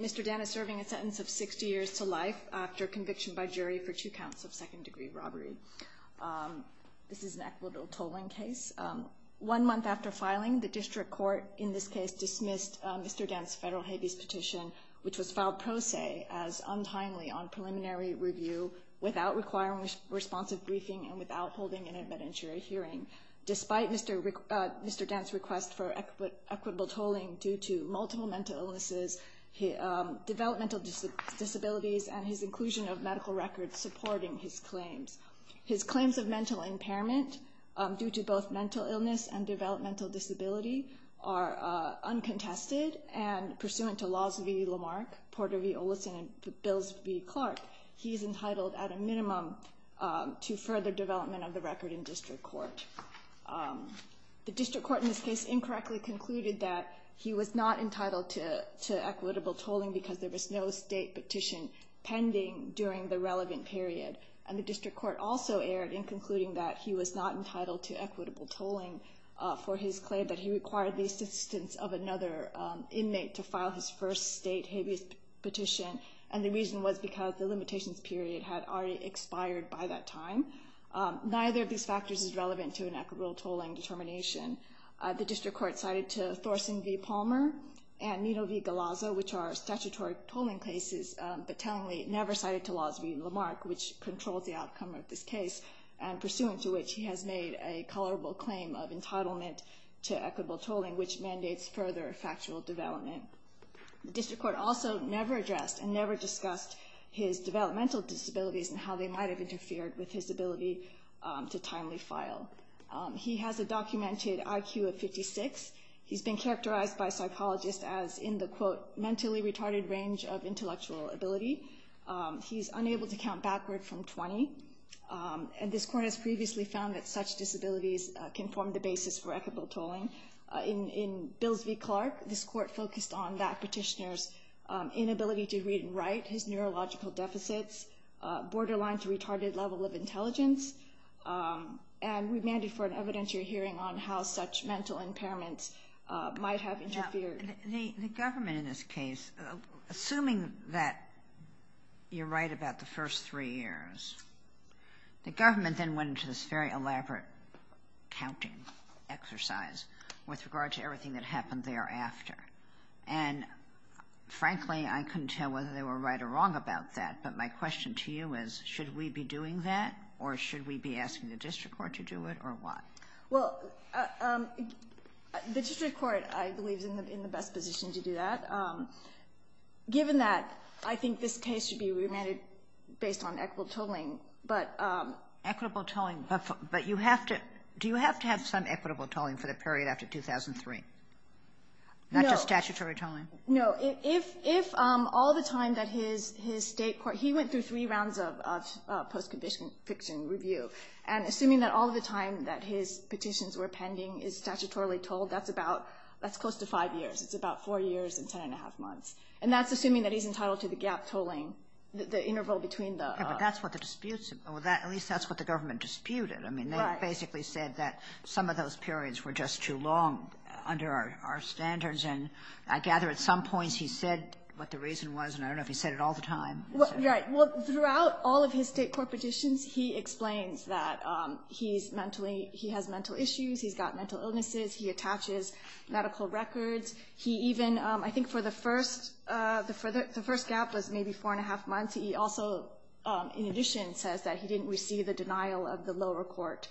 Mr. Dent is serving a sentence of 60 years to life after conviction by jury for two counts of second-degree robbery. This is an equitable tolling case. One month after filing, the district court in this case dismissed Mr. Dent's federal habeas petition, which was filed pro se as untimely on preliminary review without requiring responsive briefing and without holding an advent jury hearing. Despite Mr. Dent's request for equitable tolling due to multiple mental illnesses, developmental disabilities, and his inclusion of medical records supporting his claims, his claims of mental impairment due to both mental illness and developmental disability are uncontested and pursuant to Laws v. Lamarck, Porter v. Olison, and Bills v. Clark, he is entitled at a minimum to further development of the record in district court. The district court in this case incorrectly concluded that he was not entitled to equitable tolling because there was no state petition pending during the relevant period, and the district court also erred in concluding that he was not entitled to equitable tolling for his claim that he required the assistance of another inmate to file his first state habeas petition, and the reason was because the limitations period had already expired by that time. Neither of these factors is relevant to an equitable tolling determination. The district court cited to Thorson v. Palmer and Nitto v. Galazzo, which are statutory tolling cases, but tellingly never cited to Laws v. Lamarck, which controls the outcome of this case, and pursuant to which he has made a colorable claim of entitlement to equitable tolling, which mandates further factual development. The district court also never addressed and never discussed his developmental disabilities and how they might have interfered with his ability to timely file. He has a documented IQ of 56. He's been characterized by psychologists as in the, quote, mentally retarded range of intellectual ability. He's unable to count backward from 20, and this court has previously found that such disabilities can form the basis for equitable tolling. In Bills v. Clark, this court focused on that petitioner's inability to read and write, his neurological deficits, borderline to retarded level of intelligence, and we mandate for an evidentiary hearing on how such mental impairments might have interfered. The government in this case, assuming that you're right about the first three years, the government then went into this very elaborate counting exercise with regard to everything that happened thereafter. And, frankly, I couldn't tell whether they were right or wrong about that, but my question to you is, should we be doing that, or should we be asking the district court to do it, or why? Well, the district court, I believe, is in the best position to do that. Given that, I think this case should be remanded based on equitable tolling, but... Equitable tolling, but you have to, do you have to have some equitable tolling for the period after 2003? No. Not just statutory tolling? No. If all the time that his state court, he went through three rounds of post-conviction review, and assuming that all of the time that his petitions were pending is statutorily tolled, that's about, that's close to five years. It's about four years and ten and a half months. And that's assuming that he's entitled to the gap tolling, the interval between the... Okay. But that's what the disputes, at least that's what the government disputed. Right. I mean, they basically said that some of those periods were just too long under our standards. And I gather at some points he said what the reason was, and I don't know if he said it all the time. Right. Well, throughout all of his state court petitions, he explains that he's mentally, he has mental issues. He's got mental illnesses. He attaches medical records. He even, I think for the first, the first gap was maybe four and a half months. He also, in addition, says that he didn't receive the denial of the lower court,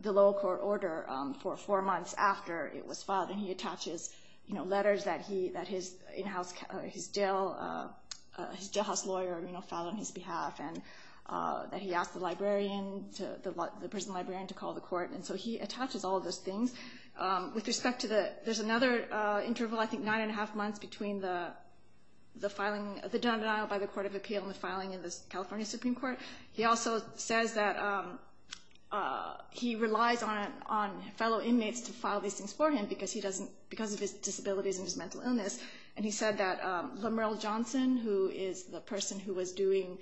the lower court order for four months after it was filed. And he attaches, you know, letters that he, that his in-house, his jail, his jailhouse lawyer, you know, filed on his behalf, and that he asked the librarian to, the prison librarian to call the court. And so he attaches all of those things. With respect to the, there's another interval, I think, nine and a half months between the filing, the denial by the court of appeal and the filing in the California Supreme Court. He also says that he relies on fellow inmates to file these things for him because he doesn't, because of his disabilities and his mental illness. And he said that Lamerle Johnson, who is the person who was doing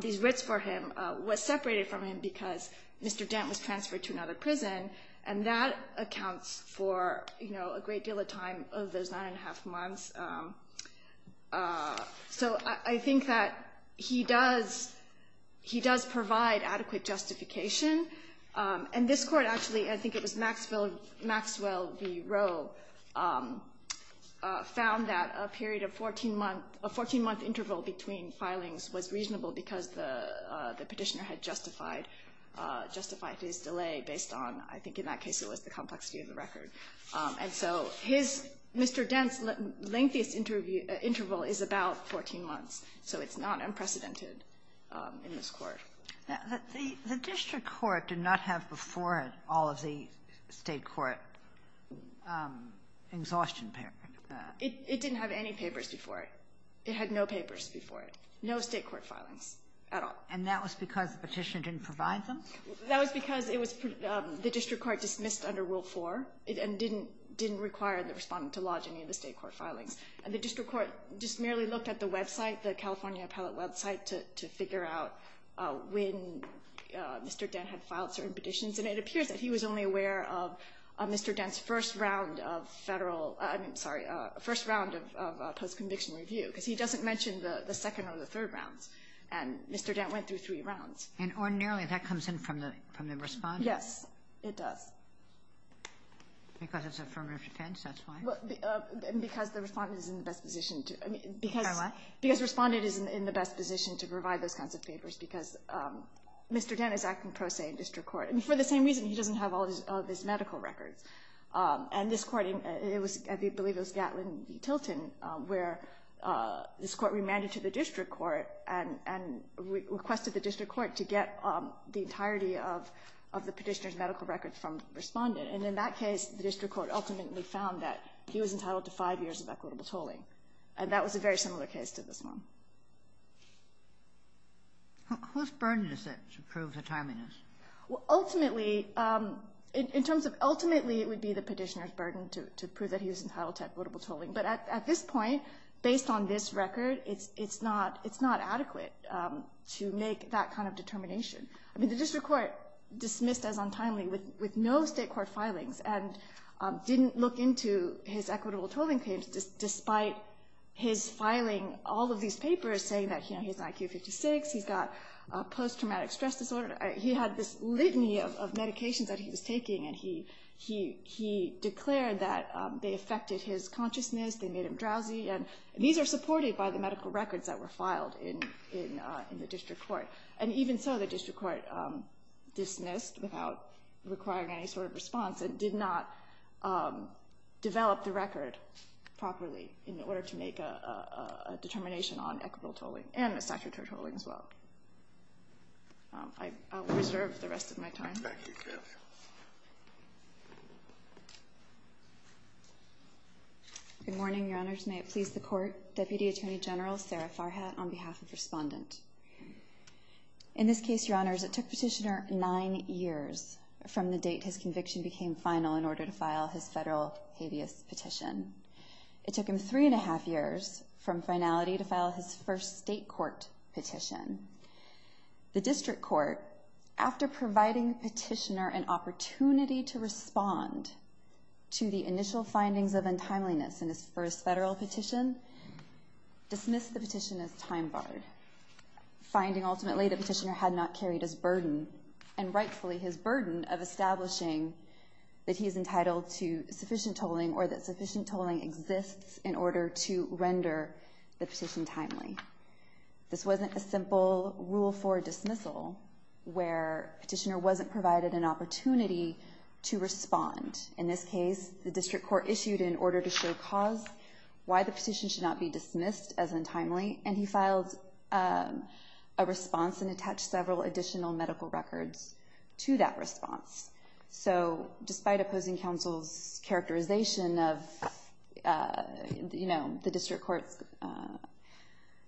these writs for him, was separated from him because Mr. Dent was transferred to another prison. And that accounts for, you know, a great deal of time of those nine and a half months. So I think that he does, he does provide adequate justification. And this court actually, I think it was Maxwell, V. Rowe, found that a period of 14-month, a 14-month interval between filings was reasonable because the Petitioner had justified, justified his delay based on, I think in that case it was the complexity of the record. And so his, Mr. Dent's lengthiest interval is about 14 months. So it's not unprecedented in this court. The District Court did not have before it all of the State Court exhaustion papers. It didn't have any papers before it. It had no papers before it. No State Court filings at all. And that was because the Petitioner didn't provide them? That was because it was, the District Court dismissed under Rule 4 and didn't, didn't require the Respondent to lodge any of the State Court filings. And the District Court just merely looked at the website, the California Appellate website, to figure out when Mr. Dent had filed certain petitions. And it appears that he was only aware of Mr. Dent's first round of Federal, I'm sorry, first round of post-conviction review, because he doesn't mention the second or the third rounds. And Mr. Dent went through three rounds. And ordinarily that comes in from the Respondent? Yes, it does. Because it's affirmative defense, that's why? Because the Respondent is in the best position to, I mean, because, because Respondent is in the best position to provide those kinds of papers, because Mr. Dent is acting pro se in District Court. And for the same reason, he doesn't have all of his medical records. And this Court, it was, I believe it was Gatlin v. Tilton, where this Court remanded to the District Court and requested the District Court to get the entirety of the Petitioner's medical records from the Respondent. And in that case, the District Court ultimately found that he was entitled to five years of equitable tolling. And that was a very similar case to this one. Whose burden is that to prove the timeliness? Well, ultimately, in terms of ultimately, it would be the Petitioner's burden to prove that he was entitled to equitable tolling. But at this point, based on this record, it's not adequate to make that kind of determination. I mean, the District Court dismissed as untimely with no State court filings and didn't look into his equitable tolling claims despite his filing all of these papers saying that he's an IQ of 56, he's got post-traumatic stress disorder. He had this litany of medications that he was taking, and he declared that they affected his consciousness, they made him drowsy. And these are supported by the medical records that were filed in the District Court. And even so, the District Court dismissed without requiring any sort of response and did not develop the record properly in order to make a determination on equitable tolling and a statutory tolling as well. I will reserve the rest of my time. Thank you, Kathy. Good morning, Your Honors. May it please the Court. Deputy Attorney General Sarah Farhat on behalf of Respondent. In this case, Your Honors, it took Petitioner nine years from the date his conviction became final in order to file his federal habeas petition. It took him three and a half years from finality to file his first State court petition. The District Court, after providing Petitioner an opportunity to respond to the initial findings of untimeliness in his first federal petition, dismissed the petition as time-barred, finding ultimately that Petitioner had not carried his burden, and rightfully his burden, of establishing that he is entitled to sufficient tolling or that sufficient tolling exists in order to render the petition timely. This wasn't a simple rule for dismissal where Petitioner wasn't provided an opportunity to respond. In this case, the District Court issued an order to show cause why the petition should not be dismissed as untimely, and he filed a response and attached several additional medical records to that response. So despite opposing counsel's characterization of the District Court's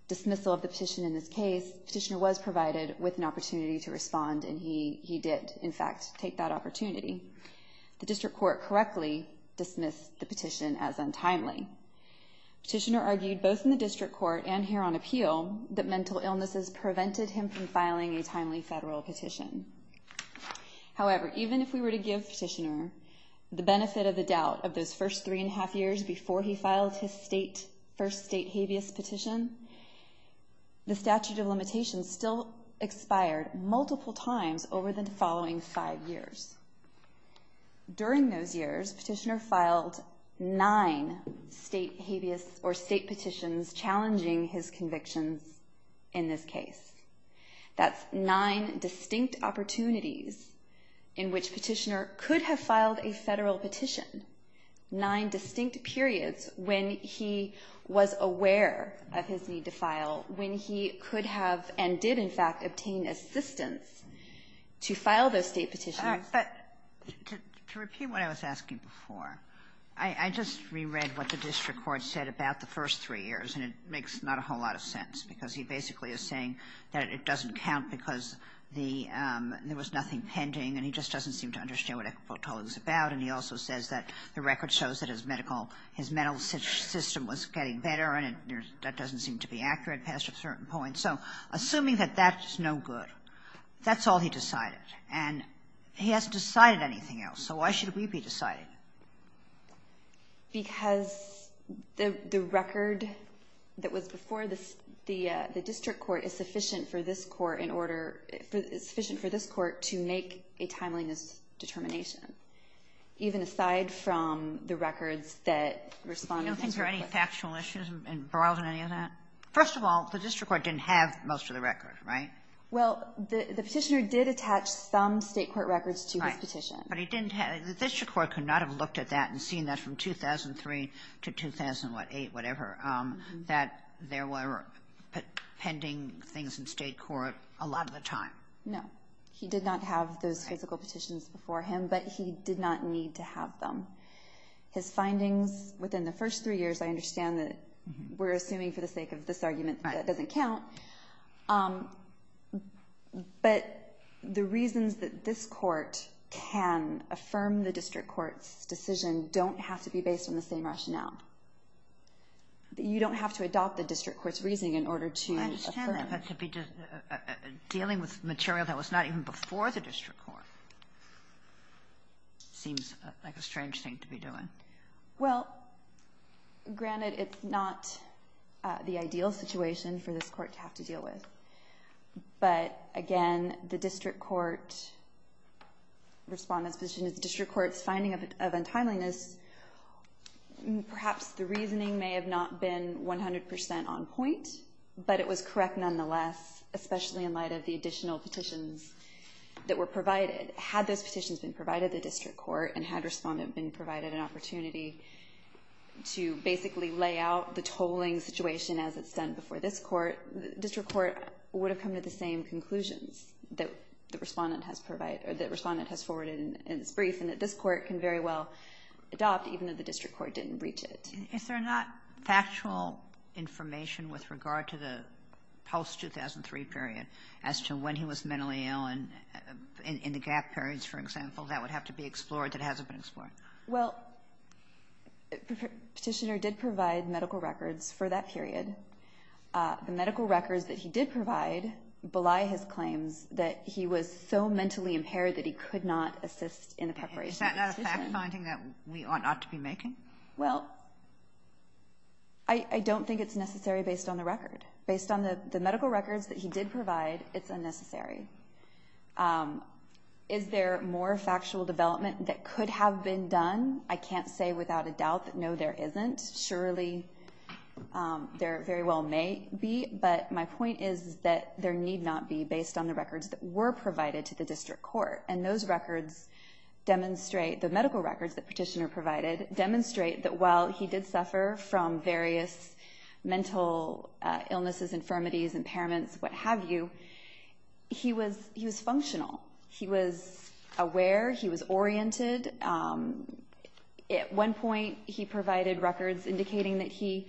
dismissal of the petition in this case, Petitioner was provided with an opportunity to respond, and he did, in fact, take that opportunity. The District Court correctly dismissed the petition as untimely. Petitioner argued, both in the District Court and here on appeal, that mental illnesses prevented him from filing a timely federal petition. However, even if we were to give Petitioner the benefit of the doubt of those first three and a half years before he filed his first State habeas petition, the statute of limitations still expired multiple times over the following five years. During those years, Petitioner filed nine State habeas or State petitions challenging his convictions in this case. That's nine distinct opportunities in which Petitioner could have filed a federal petition, nine distinct periods when he was aware of his need to file, when he could have and did, in fact, obtain assistance to file those State petitions. Ginsburg. But to repeat what I was asking before, I just reread what the District Court said about the first three years, and it makes not a whole lot of sense, because he basically is saying that it doesn't count because there was nothing pending, and he just doesn't seem to understand what Equipotola is about, and he also says that the record shows that his medical, his mental system was getting better, and that doesn't seem to be accurate past a certain point. So assuming that that's no good, that's all he decided, and he hasn't decided anything else. So why should we be deciding? Because the record that was before the District Court is sufficient for this Court in order respond to things real quick. Kagan. Do you think there are any factual issues involved in any of that? First of all, the District Court didn't have most of the record, right? Well, the Petitioner did attach some State court records to his petition. Right. But he didn't have the District Court could not have looked at that and seen that from 2003 to 2008, whatever, that there were pending things in State court a lot of the time. No. He did not have those physical petitions before him, but he did not need to have them. His findings within the first three years, I understand that we're assuming for the sake of this argument that doesn't count, but the reasons that this Court can affirm the District Court's decision don't have to be based on the same rationale. You don't have to adopt the District Court's reasoning in order to affirm it. I understand that, but to be dealing with material that was not even before the District Court seems like a strange thing to be doing. Well, granted, it's not the ideal situation for this Court to have to deal with, but again, the District Court's finding of untimeliness, perhaps the reasoning may have not been 100% on point, but it was correct nonetheless, especially in light of the additional petitions that were provided. Had those petitions been provided to the District Court and had Respondent been provided an opportunity to basically lay out the tolling situation as it's done before this Court, the District Court would have come to the same conclusions that Respondent has provided or that Respondent has forwarded in its brief and that this Court can very well adopt, even if the District Court didn't reach it. Is there not factual information with regard to the post-2003 period as to when he was mentally ill and in the gap periods, for example, that would have to be explored that hasn't been explored? Well, Petitioner did provide medical records for that period. The medical records that he did provide belie his claims that he was so mentally impaired that he could not assist in the preparation of the petition. Is that not a fact-finding that we ought not to be making? Well, I don't think it's necessary based on the record. Based on the medical records that he did provide, it's unnecessary. Is there more factual development that could have been done? I can't say without a doubt that no, there isn't. Surely there very well may be, but my point is that there need not be based on the records that were provided to the District Court. And those records demonstrate, the medical records that Petitioner provided, demonstrate that while he did suffer from various mental illnesses, infirmities, impairments, what have you, he was functional. He was aware. He was oriented. At one point, he provided records indicating that he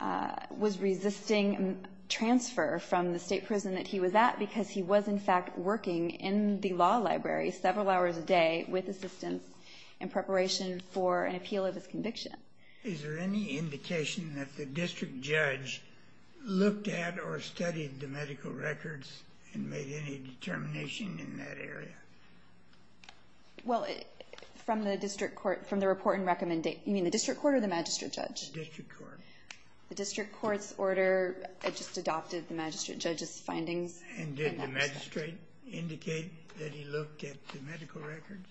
was resisting transfer from the state prison that he was at because he was, in fact, working in the law library several hours a day with assistance in preparation for an appeal of his conviction. Is there any indication that the District Judge looked at or studied the medical records and made any determination in that area? Well, from the District Court, from the report and recommendation, you mean the District Court or the Magistrate Judge? The District Court. The District Court's order just adopted the Magistrate Judge's findings. And did the magistrate indicate that he looked at the medical records?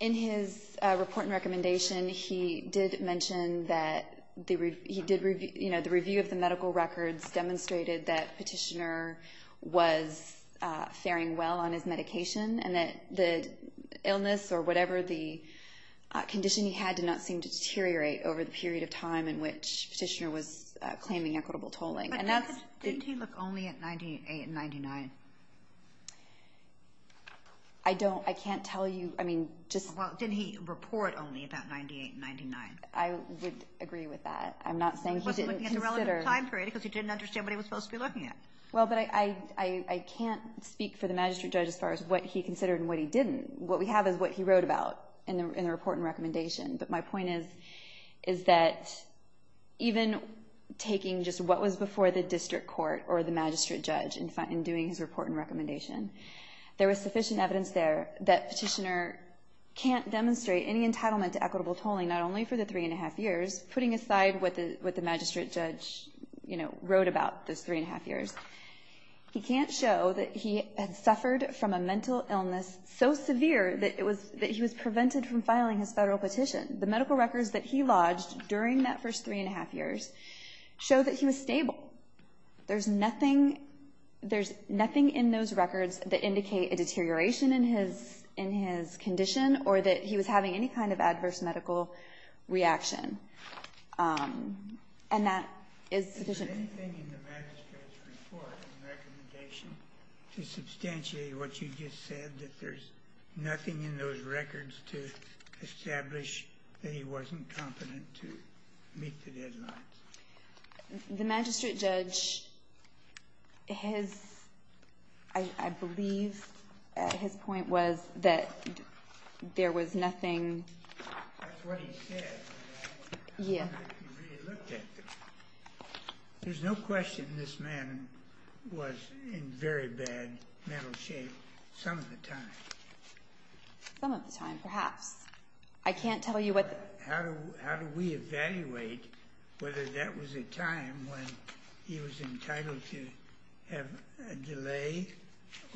In his report and recommendation, he did mention that he did review, you know, the review of the medical records demonstrated that Petitioner was faring well on his medication and that the illness or whatever the condition he had did not seem to deteriorate over the period of time in which Petitioner was claiming equitable tolling. But didn't he look only at 98 and 99? I don't. I can't tell you. I mean, just... Well, didn't he report only about 98 and 99? I would agree with that. I'm not saying he didn't consider... He wasn't looking at the relevant time period because he didn't understand what he was supposed to be looking at. Well, but I can't speak for the Magistrate Judge as far as what he considered and what he didn't. What we have is what he wrote about in the report and recommendation. But my point is that even taking just what was before the District Court or the Magistrate Judge in doing his report and recommendation, there was sufficient evidence there that Petitioner can't demonstrate any entitlement to equitable tolling, not only for the three and a half years, putting aside what the Magistrate Judge, you know, wrote about those three and a half years. He can't show that he had suffered from a mental illness so severe that he was deficient. The medical records that he lodged during that first three and a half years show that he was stable. There's nothing in those records that indicate a deterioration in his condition or that he was having any kind of adverse medical reaction. And that is sufficient... Is there anything in the Magistrate's report and recommendation to substantiate what you just said, that there's nothing in those records to establish that he wasn't competent to meet the deadlines? The Magistrate Judge, his... I believe his point was that there was nothing... That's what he said. Yeah. I don't think he really looked at them. There's no question this man was in very bad mental shape some of the time. Some of the time, perhaps. I can't tell you what... How do we evaluate whether that was a time when he was entitled to have a delay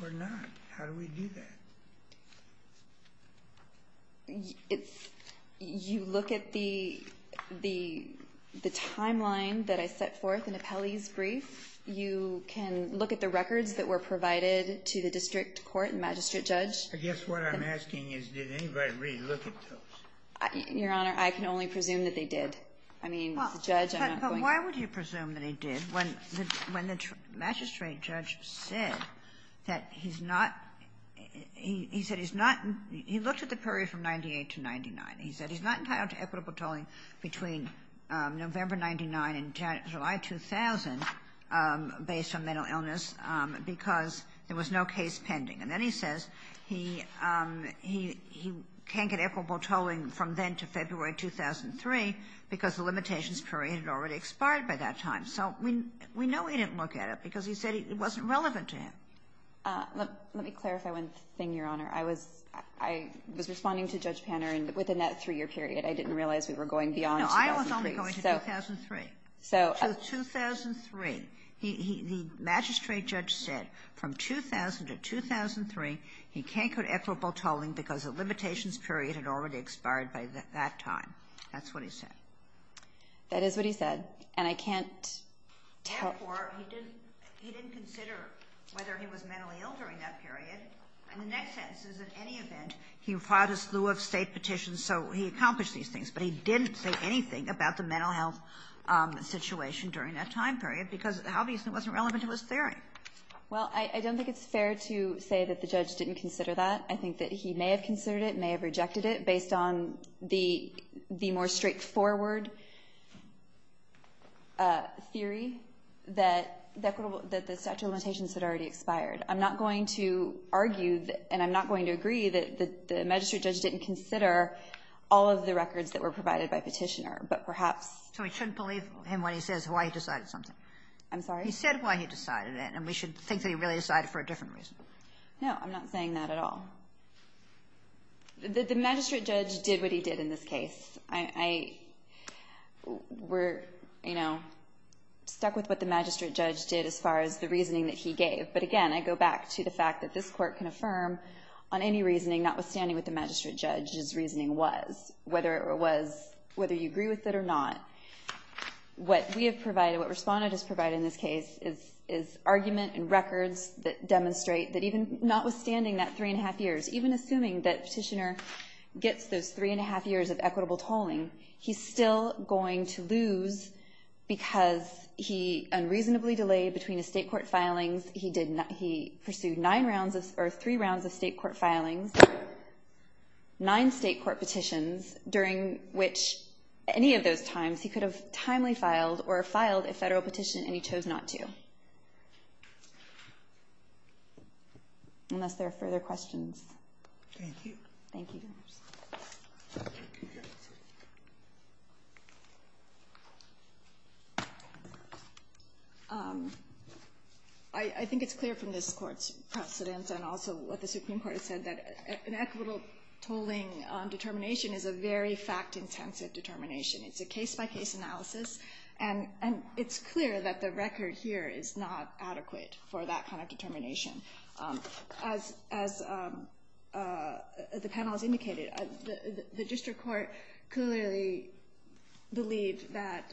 or not? How do we do that? It's... You look at the timeline that I set forth in Apelli's brief. You can look at the records that were provided to the district court and magistrate judge. I guess what I'm asking is, did anybody really look at those? Your Honor, I can only presume that they did. But why would you presume that he did when the magistrate judge said that he's not he said he's not he looked at the period from 98 to 99. He said he's not entitled to equitable tolling between November 99 and July 2000 based on mental illness because there was no case pending. And then he says he can't get equitable tolling from then to February 2003 because the limitations period had already expired by that time. So we know he didn't look at it because he said it wasn't relevant to him. Let me clarify one thing, Your Honor. I was responding to Judge Panner, and within that three-year period, I didn't realize we were going beyond 2003. No, I was only going to 2003. So... So 2003. The magistrate judge said from 2000 to 2003, he can't get equitable tolling because the limitations period had already expired by that time. That's what he said. That is what he said. And I can't tell... Therefore, he didn't consider whether he was mentally ill during that period. And the next sentence is, in any event, he filed a slew of State petitions, so he accomplished these things. But he didn't say anything about the mental health situation during that time period because it obviously wasn't relevant to his theory. Well, I don't think it's fair to say that the judge didn't consider that. I think that he may have considered it, may have rejected it based on the more straightforward theory that the statute of limitations had already expired. I'm not going to argue, and I'm not going to agree, that the magistrate judge didn't consider all of the records that were provided by Petitioner, but perhaps... So we shouldn't believe him when he says why he decided something. I'm sorry? He said why he decided it, and we should think that he really decided for a different reason. No, I'm not saying that at all. The magistrate judge did what he did in this case. We're stuck with what the magistrate judge did as far as the reasoning that he gave. But again, I go back to the fact that this court can affirm on any reasoning notwithstanding what the magistrate judge's reasoning was, whether you agree with it or not. What we have provided, what Respondent has provided in this case, is argument and records that demonstrate that even notwithstanding that three-and-a-half years, even assuming that Petitioner gets those three-and-a-half years of equitable tolling, he's still going to lose because he unreasonably delayed between his state court filings. He pursued three rounds of state court filings, nine state court petitions, during which any of those times, he could have timely filed or filed a federal petition, and he chose not to, unless there are further questions. Thank you. Thank you. I think it's clear from this Court's precedent and also what the Supreme Court has said that an equitable tolling determination is a very fact-intensive determination. It's a case-by-case analysis, and it's clear that the record here is not adequate for that kind of determination. As the panel has indicated, the district court clearly believed that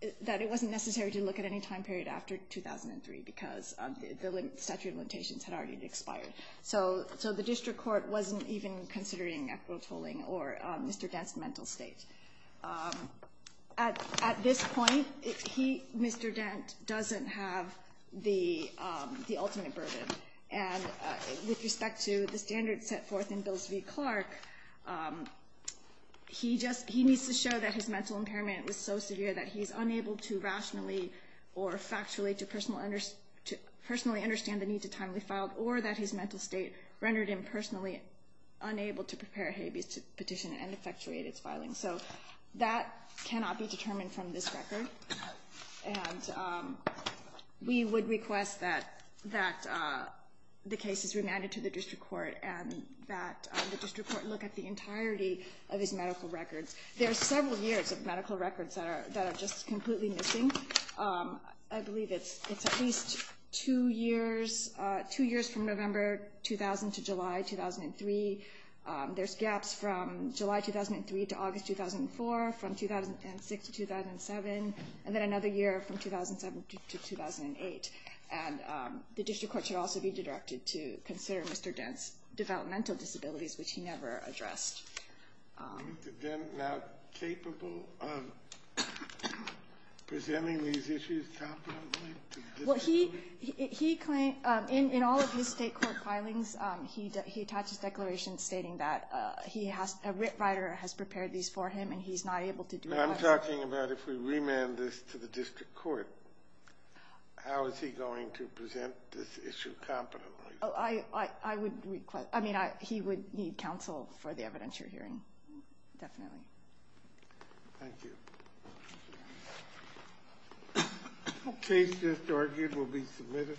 it wasn't necessary to look at any time period after 2003 because the statute of limitations had already expired. So the district court wasn't even considering equitable tolling or Mr. Dent's mental state. At this point, Mr. Dent doesn't have the ultimate burden, and with respect to the standards set forth in Bills v. Clark, he needs to show that his mental impairment was so severe that he's unable to rationally or factually to personally understand the need to timely file, or that his mental state rendered him personally unable to prepare a habeas petition and effectuate its filing. So that cannot be determined from this record, and we would request that the case is remanded to the district court and that the district court look at the entirety of his medical records. There are several years of medical records that are just completely missing. I believe it's at least two years from November 2000 to July 2003. There's gaps from July 2003 to August 2004, from 2006 to 2007, and then another year from 2007 to 2008. And the district court should also be directed to consider Mr. Dent's developmental disabilities, which he never addressed. Is Mr. Dent now capable of presenting these issues competently to the district court? Well, he claims in all of his state court filings, he attaches declarations stating that a writ writer has prepared these for him, and he's not able to do it. But I'm talking about if we remand this to the district court, how is he going to present this issue competently? Oh, I would request. I mean, he would need counsel for the evidence you're hearing, definitely. Thank you. The case just argued will be submitted.